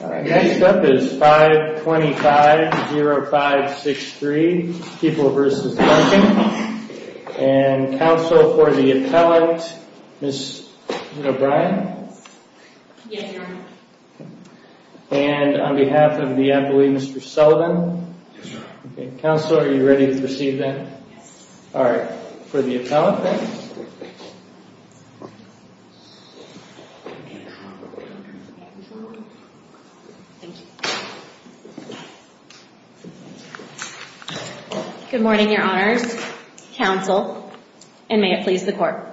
Next up is 525-0563, People v. Duncan, and counsel for the appellant, Ms. O'Brien? Yes, Your Honor. And on behalf of the employee, Mr. Sullivan? Yes, Your Honor. Counsel, are you ready to proceed then? Yes. All right. For the appellant, please. Thank you. Good morning, Your Honors, counsel, and may it please the Court.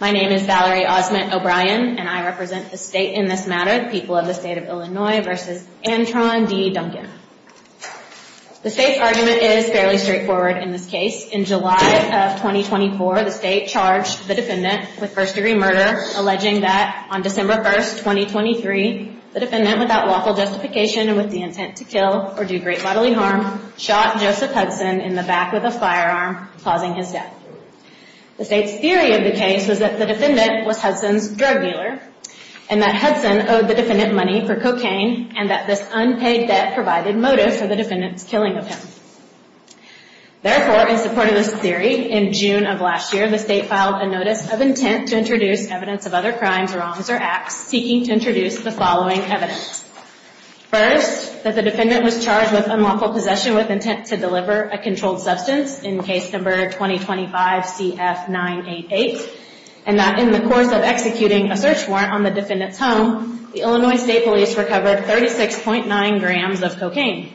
My name is Valerie Osment O'Brien, and I represent the State in this matter, the people of the State of Illinois v. Antron D. Duncan. The State's argument is fairly straightforward in this case. In July of 2024, the State charged the defendant with first-degree murder, alleging that, on December 1, 2023, the defendant, without lawful justification and with the intent to kill or do great bodily harm, shot Joseph Hudson in the back with a firearm, causing his death. The State's theory of the case was that the defendant was Hudson's drug dealer and that Hudson owed the defendant money for cocaine and that this unpaid debt provided motive for the defendant's killing of him. Therefore, in support of this theory, in June of last year, the State filed a notice of intent to introduce evidence of other crimes, wrongs, or acts seeking to introduce the following evidence. First, that the defendant was charged with unlawful possession with intent to deliver a controlled substance in Case No. 2025-CF988 and that in the course of executing a search warrant on the defendant's home, the Illinois State Police recovered 36.9 grams of cocaine.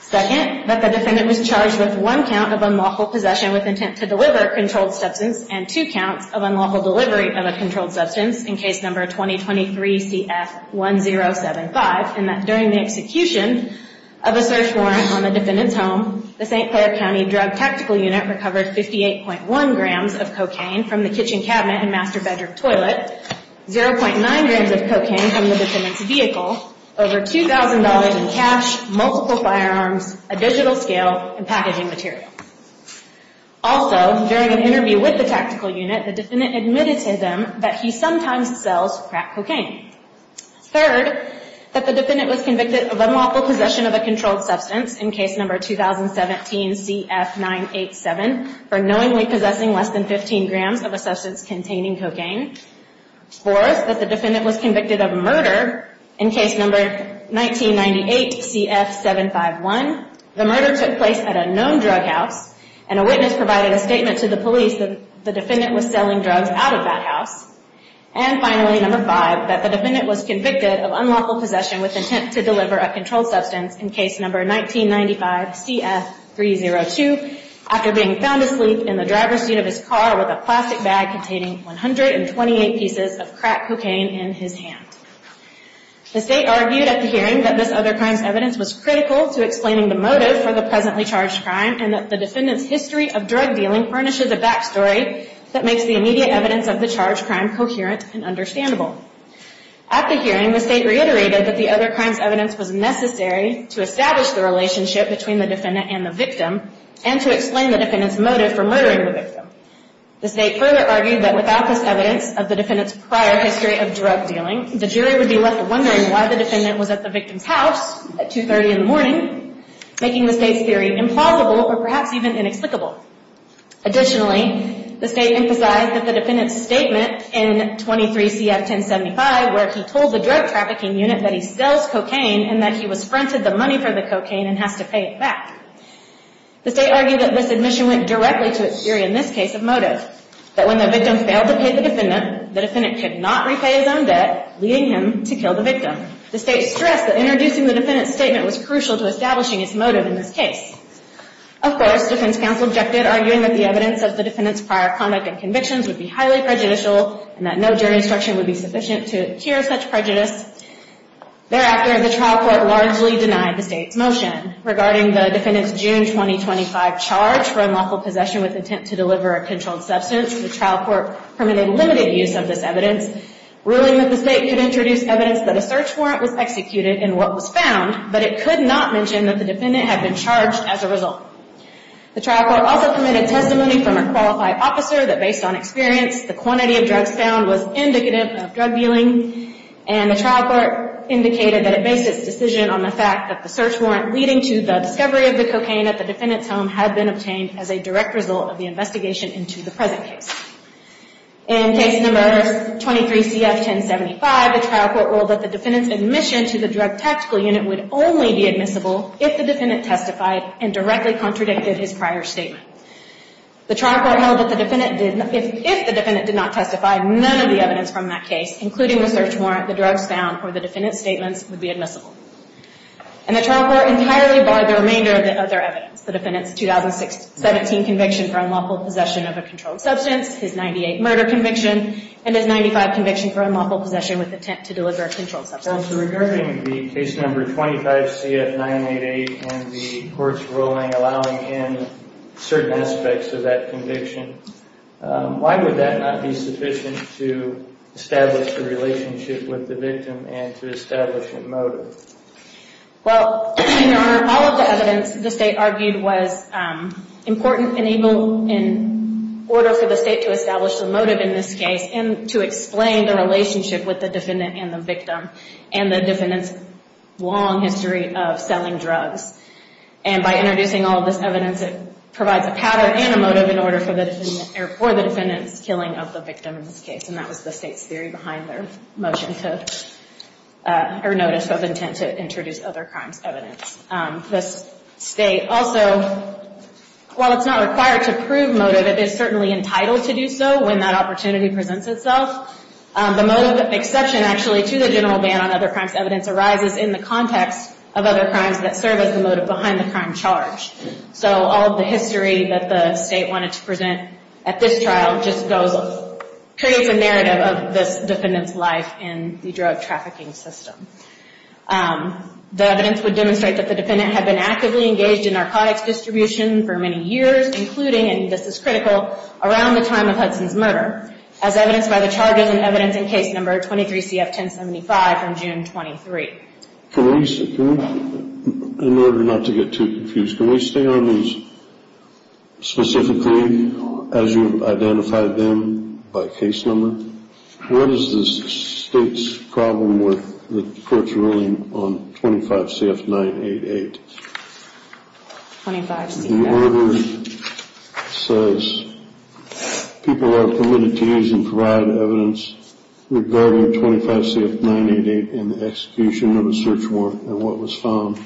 Second, that the defendant was charged with one count of unlawful possession with intent to deliver a controlled substance and two counts of unlawful delivery of a controlled substance in Case No. 2023-CF1075 and that during the execution of a search warrant on the defendant's home, the St. Clair County Drug Tactical Unit recovered 58.1 grams of cocaine from the kitchen cabinet and master bedroom toilet, 0.9 grams of cocaine from the defendant's vehicle, over $2,000 in cash, multiple firearms, a digital scale, and packaging material. Also, during an interview with the tactical unit, the defendant admitted to them that he sometimes sells crack cocaine. Third, that the defendant was convicted of unlawful possession of a controlled substance in Case No. 2017-CF987 for knowingly possessing less than 15 grams of a substance containing cocaine. Fourth, that the defendant was convicted of murder in Case No. 1998-CF751. The murder took place at a known drug house and a witness provided a statement to the police that the defendant was selling drugs out of that house. And finally, No. 5, that the defendant was convicted of unlawful possession with intent to deliver a controlled substance in Case No. 1995-CF302 after being found asleep in the driver's seat of his car with a plastic bag containing 128 pieces of crack cocaine in his hand. The State argued at the hearing that this other crimes evidence was critical to explaining the motive for the presently charged crime and that the defendant's history of drug dealing furnishes a backstory that makes the immediate evidence of the charged crime coherent and understandable. At the hearing, the State reiterated that the other crimes evidence was necessary to establish the relationship between the defendant and the victim and to explain the defendant's motive for murdering the victim. The State further argued that without this evidence of the defendant's prior history of drug dealing, the jury would be left wondering why the defendant was at the victim's house at 2.30 in the morning, making the State's theory implausible or perhaps even inexplicable. Additionally, the State emphasized that the defendant's statement in No. 23-CF1075, where he told the drug trafficking unit that he sells cocaine and that he was fronted the money for the cocaine and has to pay it back. The State argued that this admission went directly to its theory in this case of motive, that when the victim failed to pay the defendant, the defendant could not repay his own debt, leading him to kill the victim. The State stressed that introducing the defendant's statement was crucial to establishing its motive in this case. Of course, defense counsel objected, arguing that the evidence of the defendant's prior conduct and convictions would be highly prejudicial and that no jury instruction would be sufficient to cure such prejudice. Thereafter, the trial court largely denied the State's motion. Regarding the defendant's June 2025 charge for unlawful possession with intent to deliver a controlled substance, the trial court permitted limited use of this evidence, ruling that the State could introduce evidence that a search warrant was executed in what was found, but it could not mention that the defendant had been charged as a result. The trial court also permitted testimony from a qualified officer that, based on experience, the quantity of drugs found was indicative of drug dealing, and the trial court indicated that it based its decision on the fact that the search warrant leading to the discovery of the cocaine at the defendant's home had been obtained as a direct result of the investigation into the present case. In Case No. 23-CF-1075, the trial court ruled that the defendant's admission to the drug tactical unit would only be admissible if the defendant testified and directly contradicted his prior statement. The trial court held that if the defendant did not testify, none of the evidence from that case, including the search warrant, the drugs found, or the defendant's statements, would be admissible. And the trial court entirely barred the remainder of their evidence, the defendant's 2017 conviction for unlawful possession of a controlled substance, his 1998 murder conviction, and his 1995 conviction for unlawful possession with intent to deliver a controlled substance. Counsel, regarding the Case No. 25-CF-988 and the court's ruling allowing in certain aspects of that conviction, why would that not be sufficient to establish the relationship with the victim and to establish a motive? Well, in order for all of the evidence the State argued was important in order for the State to establish the motive in this case and to explain the relationship with the defendant and the victim and the defendant's long history of selling drugs. And by introducing all of this evidence, it provides a pattern and a motive in order for the defendant's killing of the victim in this case. And that was the State's theory behind their motion to, or notice of intent to introduce other crimes evidence. This State also, while it's not required to prove motive, it is certainly entitled to do so when that opportunity presents itself. The motive exception actually to the general ban on other crimes evidence arises in the context of other crimes that serve as the motive behind the crime charge. So all of the history that the State wanted to present at this trial just goes, creates a narrative of this defendant's life in the drug trafficking system. The evidence would demonstrate that the defendant had been actively engaged in narcotics distribution for many years, including, and this is critical, around the time of Hudson's murder, as evidenced by the charges and evidence in case number 23 CF 1075 from June 23. Can we, in order not to get too confused, can we stay on these specifically as you've identified them by case number? What is the State's problem with the court's ruling on 25 CF 988? The order says people are permitted to use and provide evidence regarding 25 CF 988 in the execution of a search warrant. And what was found,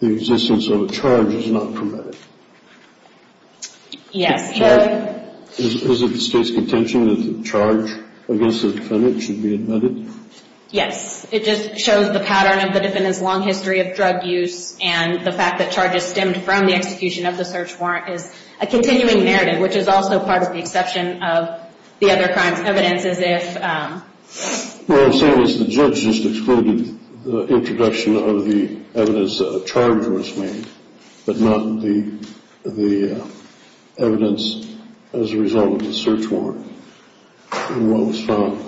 the existence of a charge is not permitted. Yes. Is it the State's contention that the charge against the defendant should be admitted? Yes. It just shows the pattern of the defendant's long history of drug use and the fact that charges stemmed from the execution of the search warrant is a continuing narrative, which is also part of the exception of the other crimes evidence as if... What I'm saying is the judge just excluded the introduction of the evidence that a charge was made, but not the evidence as a result of the search warrant and what was found.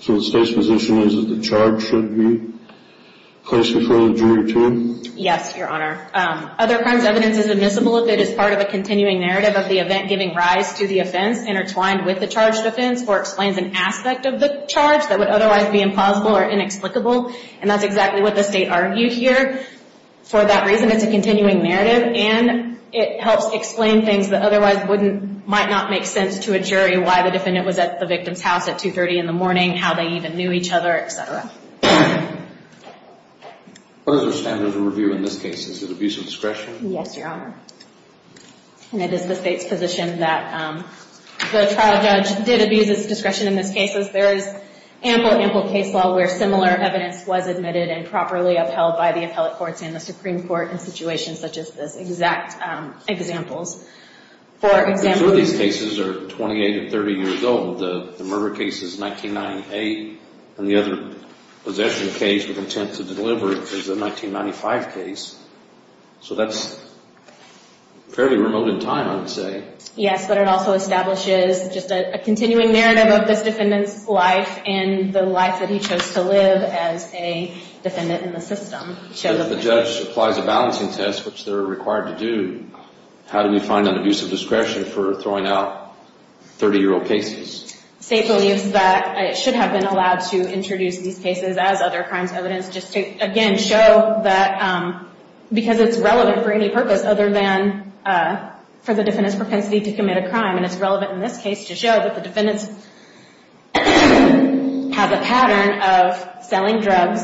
So the State's position is that the charge should be placed before the jury too? Yes, Your Honor. Other crimes evidence is admissible if it is part of a continuing narrative of the event giving rise to the offense intertwined with the charged offense or explains an aspect of the charge that would otherwise be impossible or inexplicable, and that's exactly what the State argued here. For that reason, it's a continuing narrative, and it helps explain things that otherwise might not make sense to a jury why the defendant was at the victim's house at 2.30 in the morning, how they even knew each other, et cetera. What are the standards of review in this case? Is it abuse of discretion? Yes, Your Honor. And it is the State's position that the trial judge did abuse his discretion in this case, as there is ample, ample case law where similar evidence was admitted and properly upheld by the appellate courts and the Supreme Court in situations such as this, exact examples. For example... The majority of these cases are 28 to 30 years old. The murder case is 1998, and the other possession case with intent to deliver is the 1995 case. So that's fairly remote in time, I would say. Yes, but it also establishes just a continuing narrative of this defendant's life and the life that he chose to live as a defendant in the system. So if the judge applies a balancing test, which they're required to do, how do we find an abuse of discretion for throwing out 30-year-old cases? The State believes that it should have been allowed to introduce these cases as other crimes evidence just to, again, show that because it's relevant for any purpose other than for the defendant's propensity to commit a crime. And it's relevant in this case to show that the defendant has a pattern of selling drugs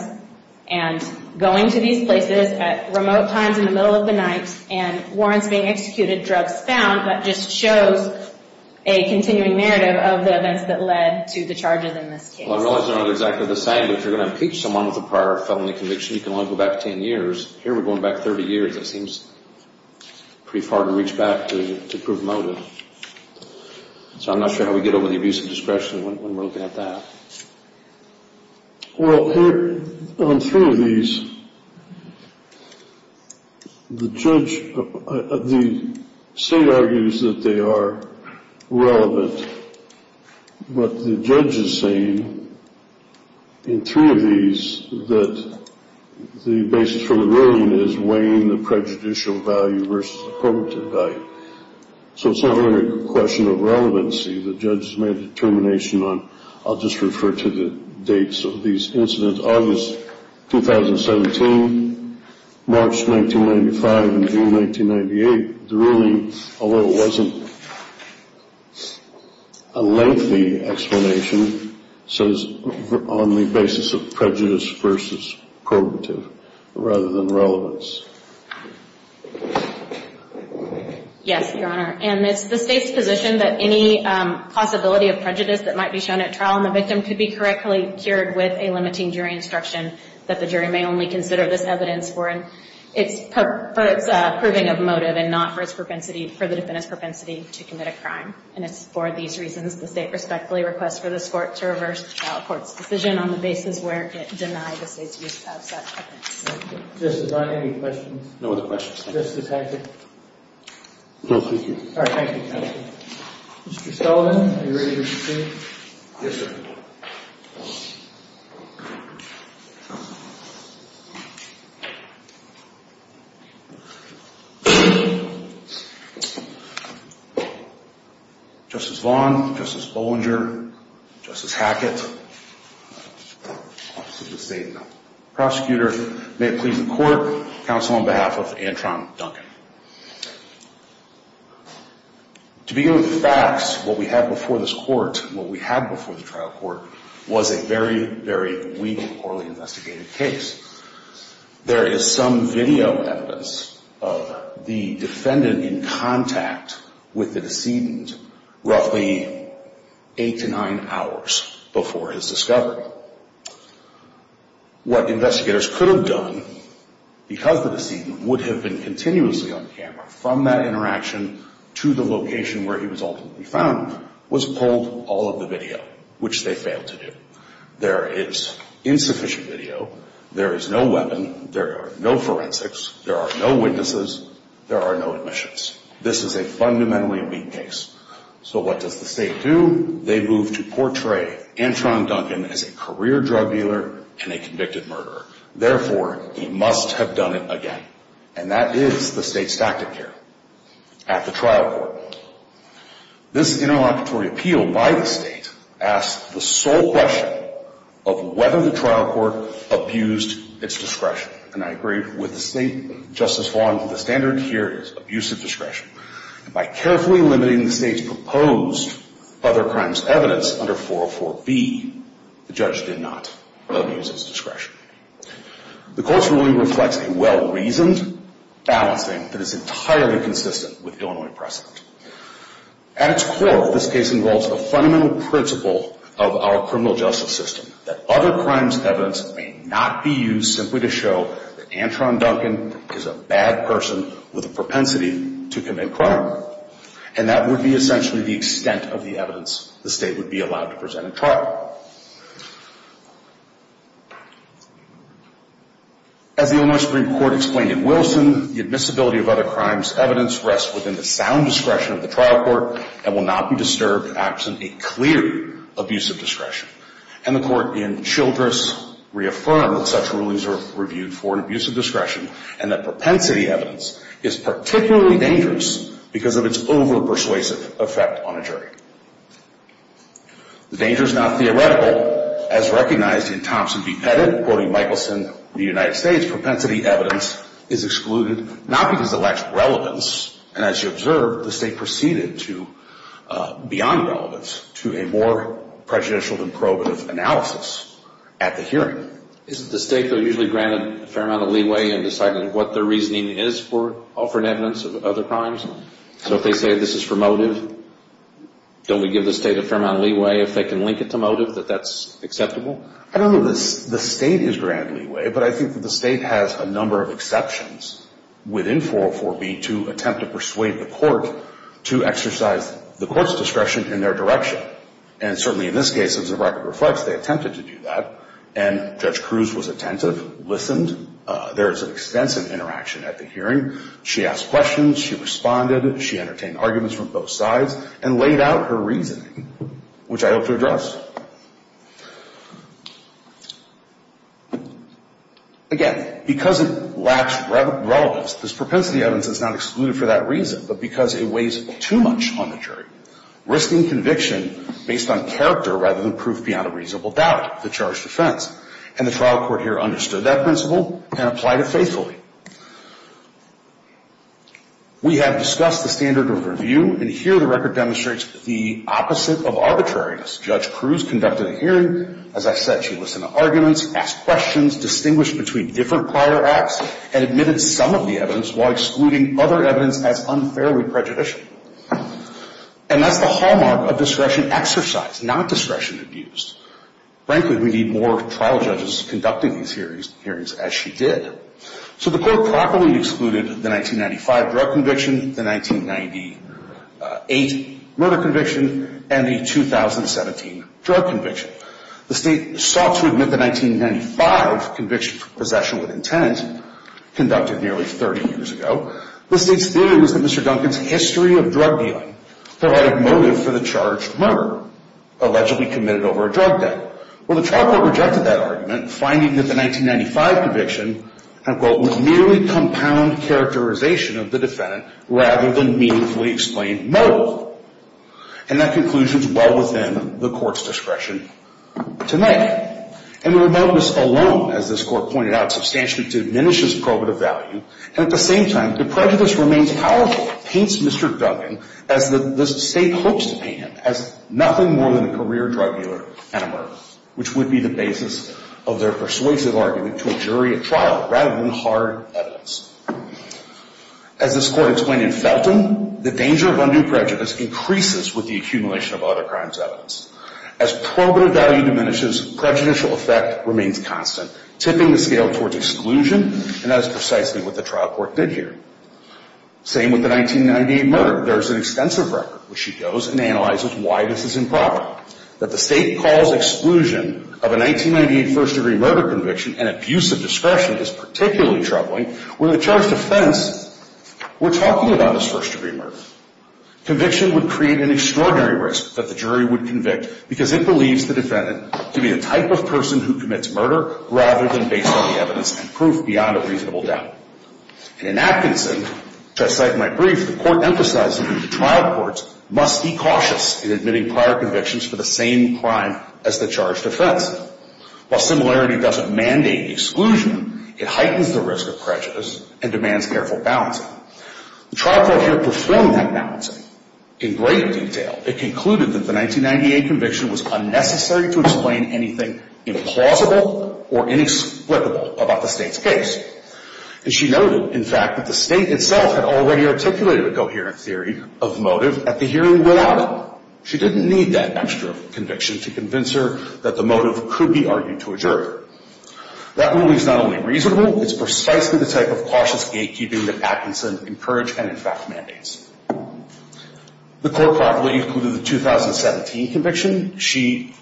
and going to these places at remote times in the middle of the night and warrants being executed, drugs found. That just shows a continuing narrative of the events that led to the charges in this case. Well, I realize they're not exactly the same, but if you're going to impeach someone with a prior felony conviction, you can only go back 10 years. Here we're going back 30 years. It seems pretty far to reach back to prove motive. So I'm not sure how we get over the abuse of discretion when we're looking at that. Well, on three of these, the State argues that they are relevant, but the judge is saying in three of these that the basis for the ruling is weighing the prejudicial value versus the probative value. So it's not really a question of relevancy. The judge has made a determination on, I'll just refer to the dates of these incidents, August 2017, March 1995, and June 1998. The ruling, although it wasn't a lengthy explanation, says on the basis of prejudice versus probative rather than relevance. Yes, Your Honor. And it's the State's position that any possibility of prejudice that might be shown at trial on the victim could be correctly cured with a limiting jury instruction, that the jury may only consider this evidence for its proving of motive and not for the defendant's propensity to commit a crime. And it's for these reasons the State respectfully requests for this Court to reverse the trial court's decision on the basis where it denied the State's use of such evidence. Justice, are there any questions? No other questions, thank you. Justice Hackett? No, thank you. All right, thank you, counsel. Mr. Sullivan, are you ready to proceed? Yes, sir. Justice Vaughn, Justice Bollinger, Justice Hackett, Office of the State Prosecutor, may it please the Court, counsel on behalf of Antron Duncan. To begin with the facts, what we had before this Court, what we had before the trial court, was a very, very weak, poorly investigated case. There is some video evidence of the defendant in contact with the decedent roughly eight to nine hours before his discovery. What investigators could have done because the decedent would have been continuously on camera from that interaction to the location where he was ultimately found was pulled all of the video, which they failed to do. There is insufficient video. There is no weapon. There are no forensics. There are no witnesses. There are no admissions. This is a fundamentally weak case. So what does the State do? They move to portray Antron Duncan as a career drug dealer and a convicted murderer. Therefore, he must have done it again. And that is the State's tactic here at the trial court. This interlocutory appeal by the State asked the sole question of whether the trial court abused its discretion. And I agree with the State. Justice Wong, the standard here is abusive discretion. By carefully limiting the State's proposed other crimes evidence under 404B, the judge did not abuse its discretion. The Court's ruling reflects a well-reasoned balancing that is entirely consistent with Illinois precedent. At its core, this case involves a fundamental principle of our criminal justice system that other crimes evidence may not be used simply to show that Antron Duncan is a bad person with a propensity to commit crime. And that would be essentially the extent of the evidence the State would be allowed to present at trial. As the Illinois Supreme Court explained in Wilson, the admissibility of other crimes evidence rests within the sound discretion of the trial court and will not be disturbed absent a clear abuse of discretion. And the Court in Childress reaffirmed that such rulings are reviewed for an abuse of discretion and that propensity evidence is particularly dangerous because of its over-persuasive effect on a jury. The danger is not theoretical. As recognized in Thompson v. Pettit, quoting Michelson of the United States, propensity evidence is excluded not because it lacks relevance. And as you observed, the State proceeded beyond relevance to a more prejudicial than probative analysis at the hearing. Isn't the State, though, usually granted a fair amount of leeway in deciding what their reasoning is for offering evidence of other crimes? So if they say this is for motive, don't we give the State a fair amount of leeway if they can link it to motive, that that's acceptable? I don't know if the State is granted leeway, but I think that the State has a number of exceptions within 404B to attempt to persuade the Court to exercise the Court's discretion in their direction. And certainly in this case, as the record reflects, they attempted to do that. And Judge Cruz was attentive, listened. There is an extensive interaction at the hearing. She asked questions. She responded. She entertained arguments from both sides and laid out her reasoning, which I hope to address. Again, because it lacks relevance, this propensity evidence is not excluded for that reason, but because it weighs too much on the jury, risking conviction based on character rather than proof beyond a reasonable doubt, the charged offense. And the trial court here understood that principle and applied it faithfully. We have discussed the standard of review, and here the record demonstrates the opposite of arbitrariness. Judge Cruz conducted a hearing. As I said, she listened to arguments, asked questions, distinguished between different prior acts, and admitted some of the evidence while excluding other evidence as unfairly prejudicial. And that's the hallmark of discretion exercise, not discretion abuse. Frankly, we need more trial judges conducting these hearings as she did. So the court properly excluded the 1995 drug conviction, the 1998 murder conviction, and the 2017 drug conviction. The state sought to admit the 1995 conviction for possession with intent, conducted nearly 30 years ago. The state's theory was that Mr. Duncan's history of drug dealing provided motive for the charged murder, allegedly committed over a drug debt. Well, the trial court rejected that argument, finding that the 1995 conviction, unquote, was merely compound characterization of the defendant rather than meaningfully explained motive. And that conclusion is well within the court's discretion tonight. And the remoteness alone, as this court pointed out, substantially diminishes probative value. And at the same time, the prejudice remains powerful. The court paints Mr. Duncan, as the state hopes to paint him, as nothing more than a career drug dealer and a murderer, which would be the basis of their persuasive argument to a jury at trial rather than hard evidence. As this court explained in Felton, the danger of undue prejudice increases with the accumulation of other crimes evidence. As probative value diminishes, prejudicial effect remains constant, tipping the scale towards exclusion, and that is precisely what the trial court did here. Same with the 1998 murder. There is an extensive record, which she goes and analyzes why this is improper. That the state calls exclusion of a 1998 first-degree murder conviction an abuse of discretion is particularly troubling when the charged offense we're talking about is first-degree murder. Conviction would create an extraordinary risk that the jury would convict because it believes the defendant to be the type of person who commits murder rather than based on the evidence and proof beyond a reasonable doubt. And in Atkinson, which I cite in my brief, the court emphasizes that the trial court must be cautious in admitting prior convictions for the same crime as the charged offense. While similarity doesn't mandate exclusion, it heightens the risk of prejudice and demands careful balancing. The trial court here performed that balancing in great detail. It concluded that the 1998 conviction was unnecessary to explain anything implausible or inexplicable about the state's case. And she noted, in fact, that the state itself had already articulated a coherent theory of motive at the hearing without it. She didn't need that extra conviction to convince her that the motive could be argued to a jury. That ruling is not only reasonable, it's precisely the type of cautious gatekeeping that Atkinson encouraged and, in fact, mandates. The court properly concluded the 2017 conviction. She,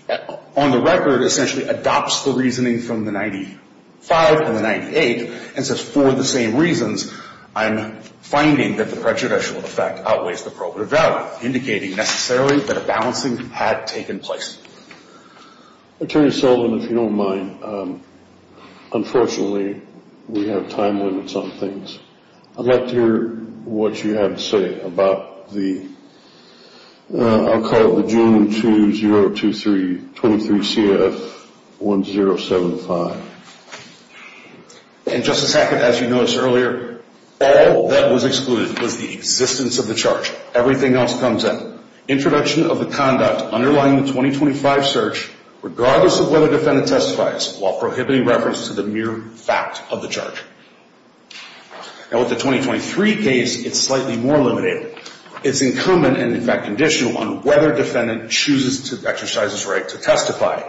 on the record, essentially adopts the reasoning from the 95 and the 98 and says, for the same reasons, I'm finding that the prejudicial effect outweighs the probative value, indicating necessarily that a balancing had taken place. Attorney Sullivan, if you don't mind, unfortunately we have time limits on things. I'd like to hear what you have to say about the, I'll call it the June 2023 CF 1075. And, Justice Hackett, as you noticed earlier, all that was excluded was the existence of the charge. Everything else comes in. Introduction of the conduct underlying the 2025 search, regardless of whether the defendant testifies, while prohibiting reference to the mere fact of the charge. Now, with the 2023 case, it's slightly more limited. It's incumbent and, in fact, conditional on whether defendant chooses to exercise his right to testify.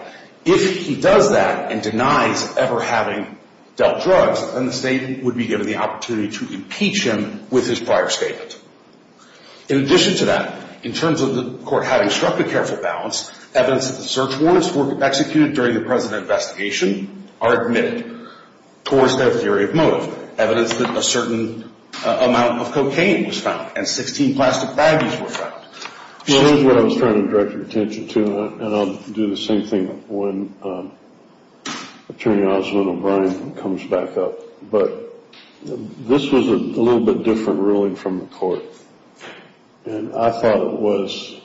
If he does that and denies ever having dealt drugs, then the state would be given the opportunity to impeach him with his prior statement. In addition to that, in terms of the court having struck a careful balance, evidence that the search warrants were executed during the present investigation are admitted towards their theory of motive. Evidence that a certain amount of cocaine was found and 16 plastic baggies were found. Well, here's what I was trying to direct your attention to, and I'll do the same thing when Attorney Oswald O'Brien comes back up. But this was a little bit different ruling from the court, and I thought it was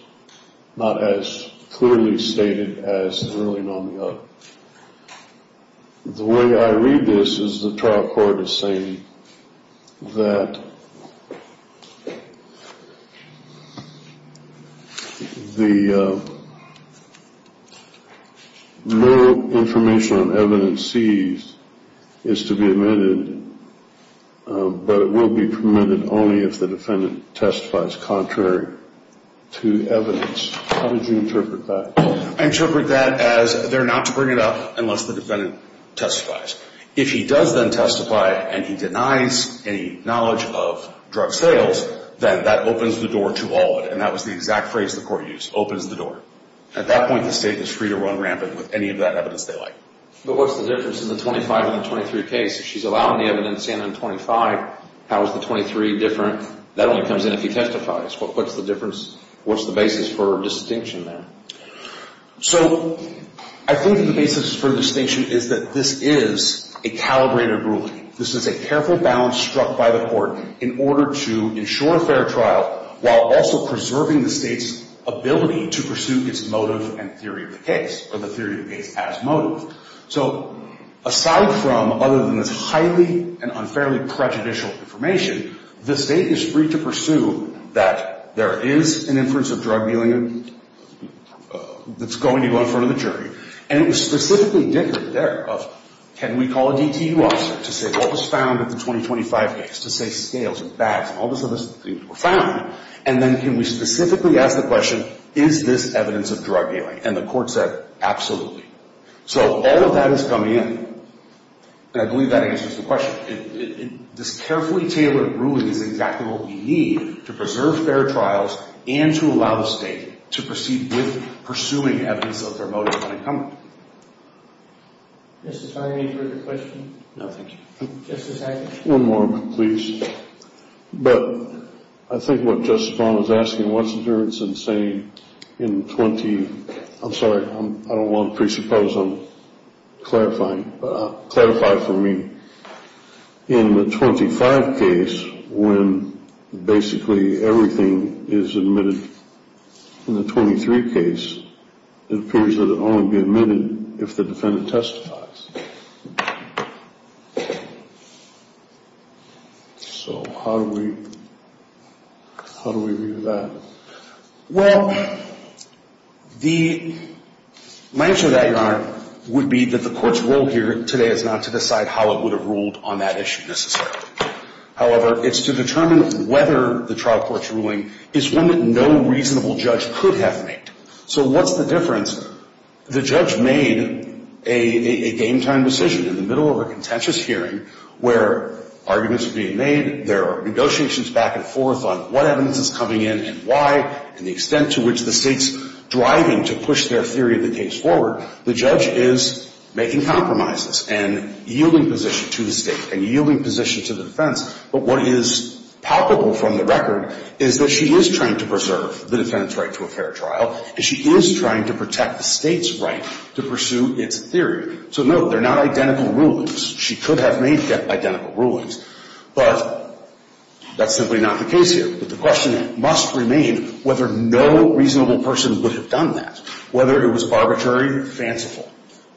not as clearly stated as the ruling on the other. The way I read this is the trial court is saying that the little information on evidence seized is to be admitted, but it will be permitted only if the defendant testifies contrary to evidence. How would you interpret that? I interpret that as they're not to bring it up unless the defendant testifies. If he does then testify and he denies any knowledge of drug sales, then that opens the door to all of it. And that was the exact phrase the court used, opens the door. At that point, the state is free to run rampant with any of that evidence they like. But what's the difference in the 25 and the 23 case? She's allowing the evidence in on 25. How is the 23 different? That only comes in if he testifies. What's the difference? What's the basis for distinction there? So I think the basis for distinction is that this is a calibrated ruling. This is a careful balance struck by the court in order to ensure a fair trial while also preserving the state's ability to pursue its motive and theory of the case or the theory of the case as motive. So aside from other than this highly and unfairly prejudicial information, the state is free to pursue that there is an inference of drug dealing that's going to go in front of the jury. And it was specifically different there. Can we call a DTU officer to say what was found in the 2025 case, to say scales and bags and all those other things were found? And then can we specifically ask the question, is this evidence of drug dealing? And the court said, absolutely. So all of that is coming in. And I believe that answers the question. This carefully tailored ruling is exactly what we need to preserve fair trials and to allow the state to proceed with pursuing evidence of their motive unencumbered. Mr. Farr, any further questions? No, thank you. Justice Hackett? One more, please. But I think what Justice Brown was asking, what's the difference in saying in 20— I'm sorry, I don't want to presuppose I'm clarifying, but clarify for me. In the 2025 case, when basically everything is admitted in the 2023 case, it appears that it will only be admitted if the defendant testifies. So how do we view that? Well, the—my answer to that, Your Honor, would be that the court's role here today is not to decide how it would have ruled on that issue necessarily. However, it's to determine whether the trial court's ruling is one that no reasonable judge could have made. So what's the difference? The judge made a game-time decision in the middle of a contentious hearing where arguments are being made, there are negotiations back and forth on what evidence is coming in and why and the extent to which the State's driving to push their theory of the case forward. The judge is making compromises and yielding position to the State and yielding position to the defense. But what is palpable from the record is that she is trying to preserve the defendant's right to a fair trial and she is trying to protect the State's right to pursue its theory. So, no, they're not identical rulings. She could have made identical rulings, but that's simply not the case here. But the question must remain whether no reasonable person would have done that, whether it was arbitrary or fanciful.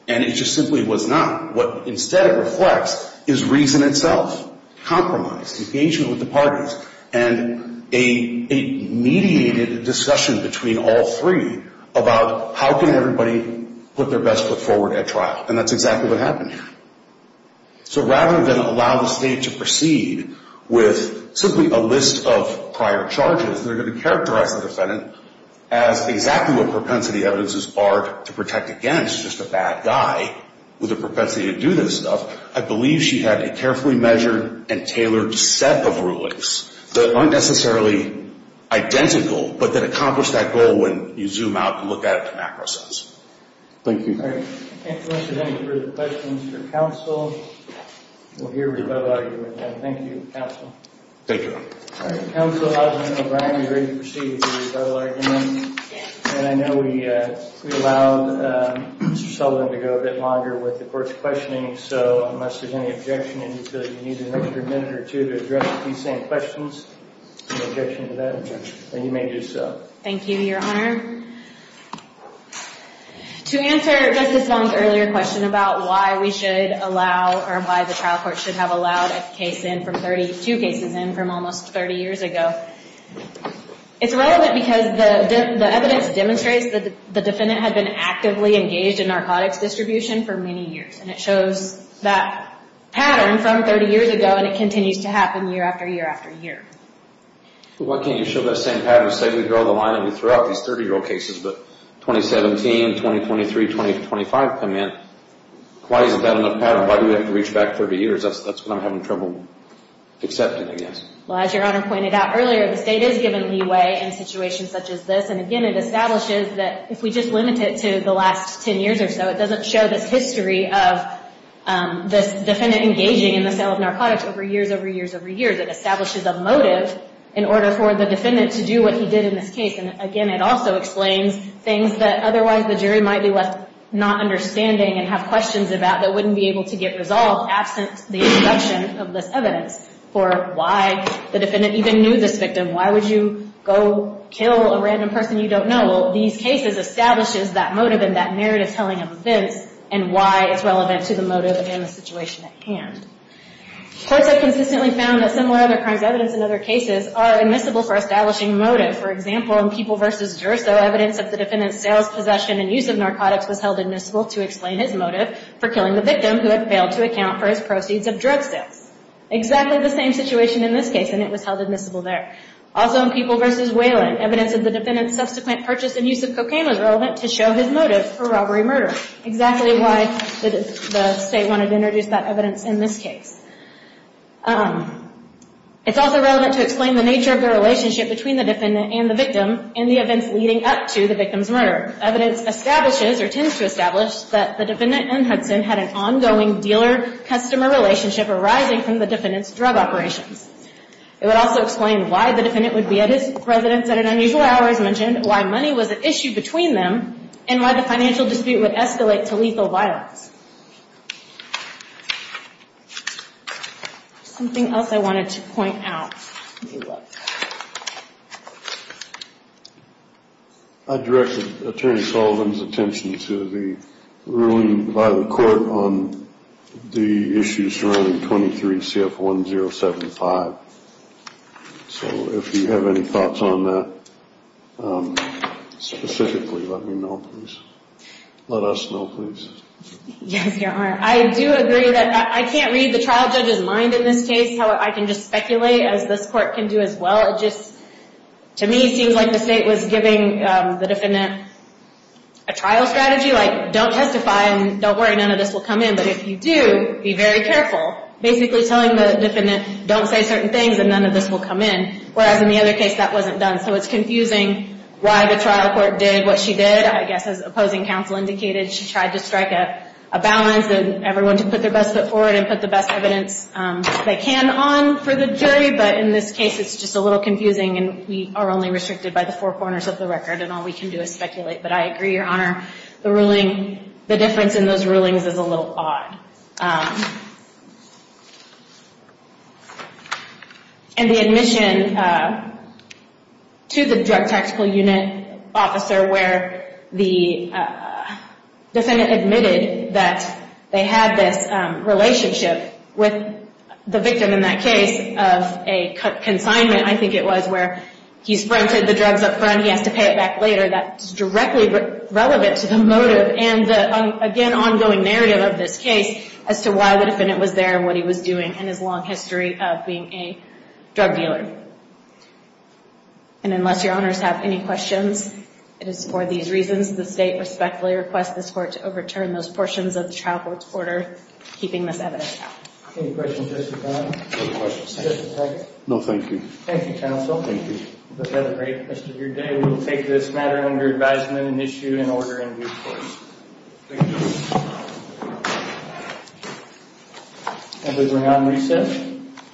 And it just simply was not. What instead it reflects is reason itself, compromise, engagement with the parties, and a mediated discussion between all three about how can everybody put their best foot forward at trial. And that's exactly what happened here. So rather than allow the State to proceed with simply a list of prior charges, they're going to characterize the defendant as exactly what propensity evidences are to protect against, just a bad guy with a propensity to do this stuff. I believe she had a carefully measured and tailored set of rulings that aren't necessarily identical, but that accomplish that goal when you zoom out and look at it in macro sense. Thank you. All right. I can't solicit any further questions from counsel. We'll hear rebuttal arguments then. Thank you, counsel. Thank you. All right. Counsel, Alderman O'Brien, are you ready to proceed with the rebuttal argument? Yes. And I know we allowed Mr. Sullivan to go a bit longer with the court's questioning, so unless there's any objection, I can tell you you need an extra minute or two to address these same questions. Any objection to that? No. Then you may do so. Thank you, Your Honor. Thank you, Your Honor. To answer Justice Vong's earlier question about why we should allow or why the trial court should have allowed a case in from 32 cases in from almost 30 years ago, it's relevant because the evidence demonstrates that the defendant had been actively engaged in narcotics distribution for many years, and it shows that pattern from 30 years ago, and it continues to happen year after year after year. Well, why can't you show that same pattern and say we draw the line and we throw out these 30-year-old cases, but 2017, 2023, 2025 come in. Why isn't that enough pattern? Why do we have to reach back 30 years? That's what I'm having trouble accepting, I guess. Well, as Your Honor pointed out earlier, the state is given leeway in situations such as this, and, again, it establishes that if we just limit it to the last 10 years or so, it doesn't show this history of this defendant engaging in the sale of narcotics over years, over years, over years. It establishes a motive in order for the defendant to do what he did in this case, and, again, it also explains things that otherwise the jury might be left not understanding and have questions about that wouldn't be able to get resolved absent the introduction of this evidence for why the defendant even knew this victim. Why would you go kill a random person you don't know? Well, these cases establishes that motive and that narrative telling of events and why it's relevant to the motive and the situation at hand. Courts have consistently found that similar other crimes evidence in other cases are admissible for establishing motive. For example, in People v. Gersow, evidence of the defendant's sales, possession, and use of narcotics was held admissible to explain his motive for killing the victim who had failed to account for his proceeds of drug sales. Exactly the same situation in this case, and it was held admissible there. Also, in People v. Wayland, evidence of the defendant's subsequent purchase and use of cocaine was relevant to show his motive for robbery and murder, exactly why the state wanted to introduce that evidence in this case. It's also relevant to explain the nature of the relationship between the defendant and the victim in the events leading up to the victim's murder. Evidence establishes or tends to establish that the defendant and Hudson had an ongoing dealer-customer relationship arising from the defendant's drug operations. It would also explain why the defendant would be at his residence at an unusual hour, as mentioned, why money was an issue between them, and why the financial dispute would escalate to lethal violence. Something else I wanted to point out. I directed Attorney Sullivan's attention to the ruling by the court on the issue surrounding 23 CF 1075. So if you have any thoughts on that specifically, let me know, please. Let us know, please. Yes, Your Honor. I do agree that I can't read the trial judge's mind in this case. However, I can just speculate, as this court can do as well. It just, to me, seems like the state was giving the defendant a trial strategy, like, don't testify and don't worry, none of this will come in, but if you do, be very careful. Basically telling the defendant, don't say certain things and none of this will come in, whereas in the other case, that wasn't done. So it's confusing why the trial court did what she did. I guess as opposing counsel indicated, she tried to strike a balance and everyone to put their best foot forward and put the best evidence they can on for the jury, but in this case, it's just a little confusing and we are only restricted by the four corners of the record and all we can do is speculate. But I agree, Your Honor. The ruling, the difference in those rulings is a little odd. And the admission to the drug tactical unit officer where the defendant admitted that they had this relationship with the victim in that case of a consignment, I think it was, where he's rented the drugs up front, he has to pay it back later, that's directly relevant to the motive and the, again, the ongoing narrative of this case as to why the defendant was there and what he was doing and his long history of being a drug dealer. And unless Your Honors have any questions, it is for these reasons, the State respectfully requests this Court to overturn those portions of the trial court's order, keeping this evidence out. Any questions, Justice Brown? No questions. Just a second. No, thank you. Thank you, counsel. Thank you. I hope you had a great rest of your day. We will take this matter under advisement and issue an order in due course. Thank you. Members, we're going to unreset.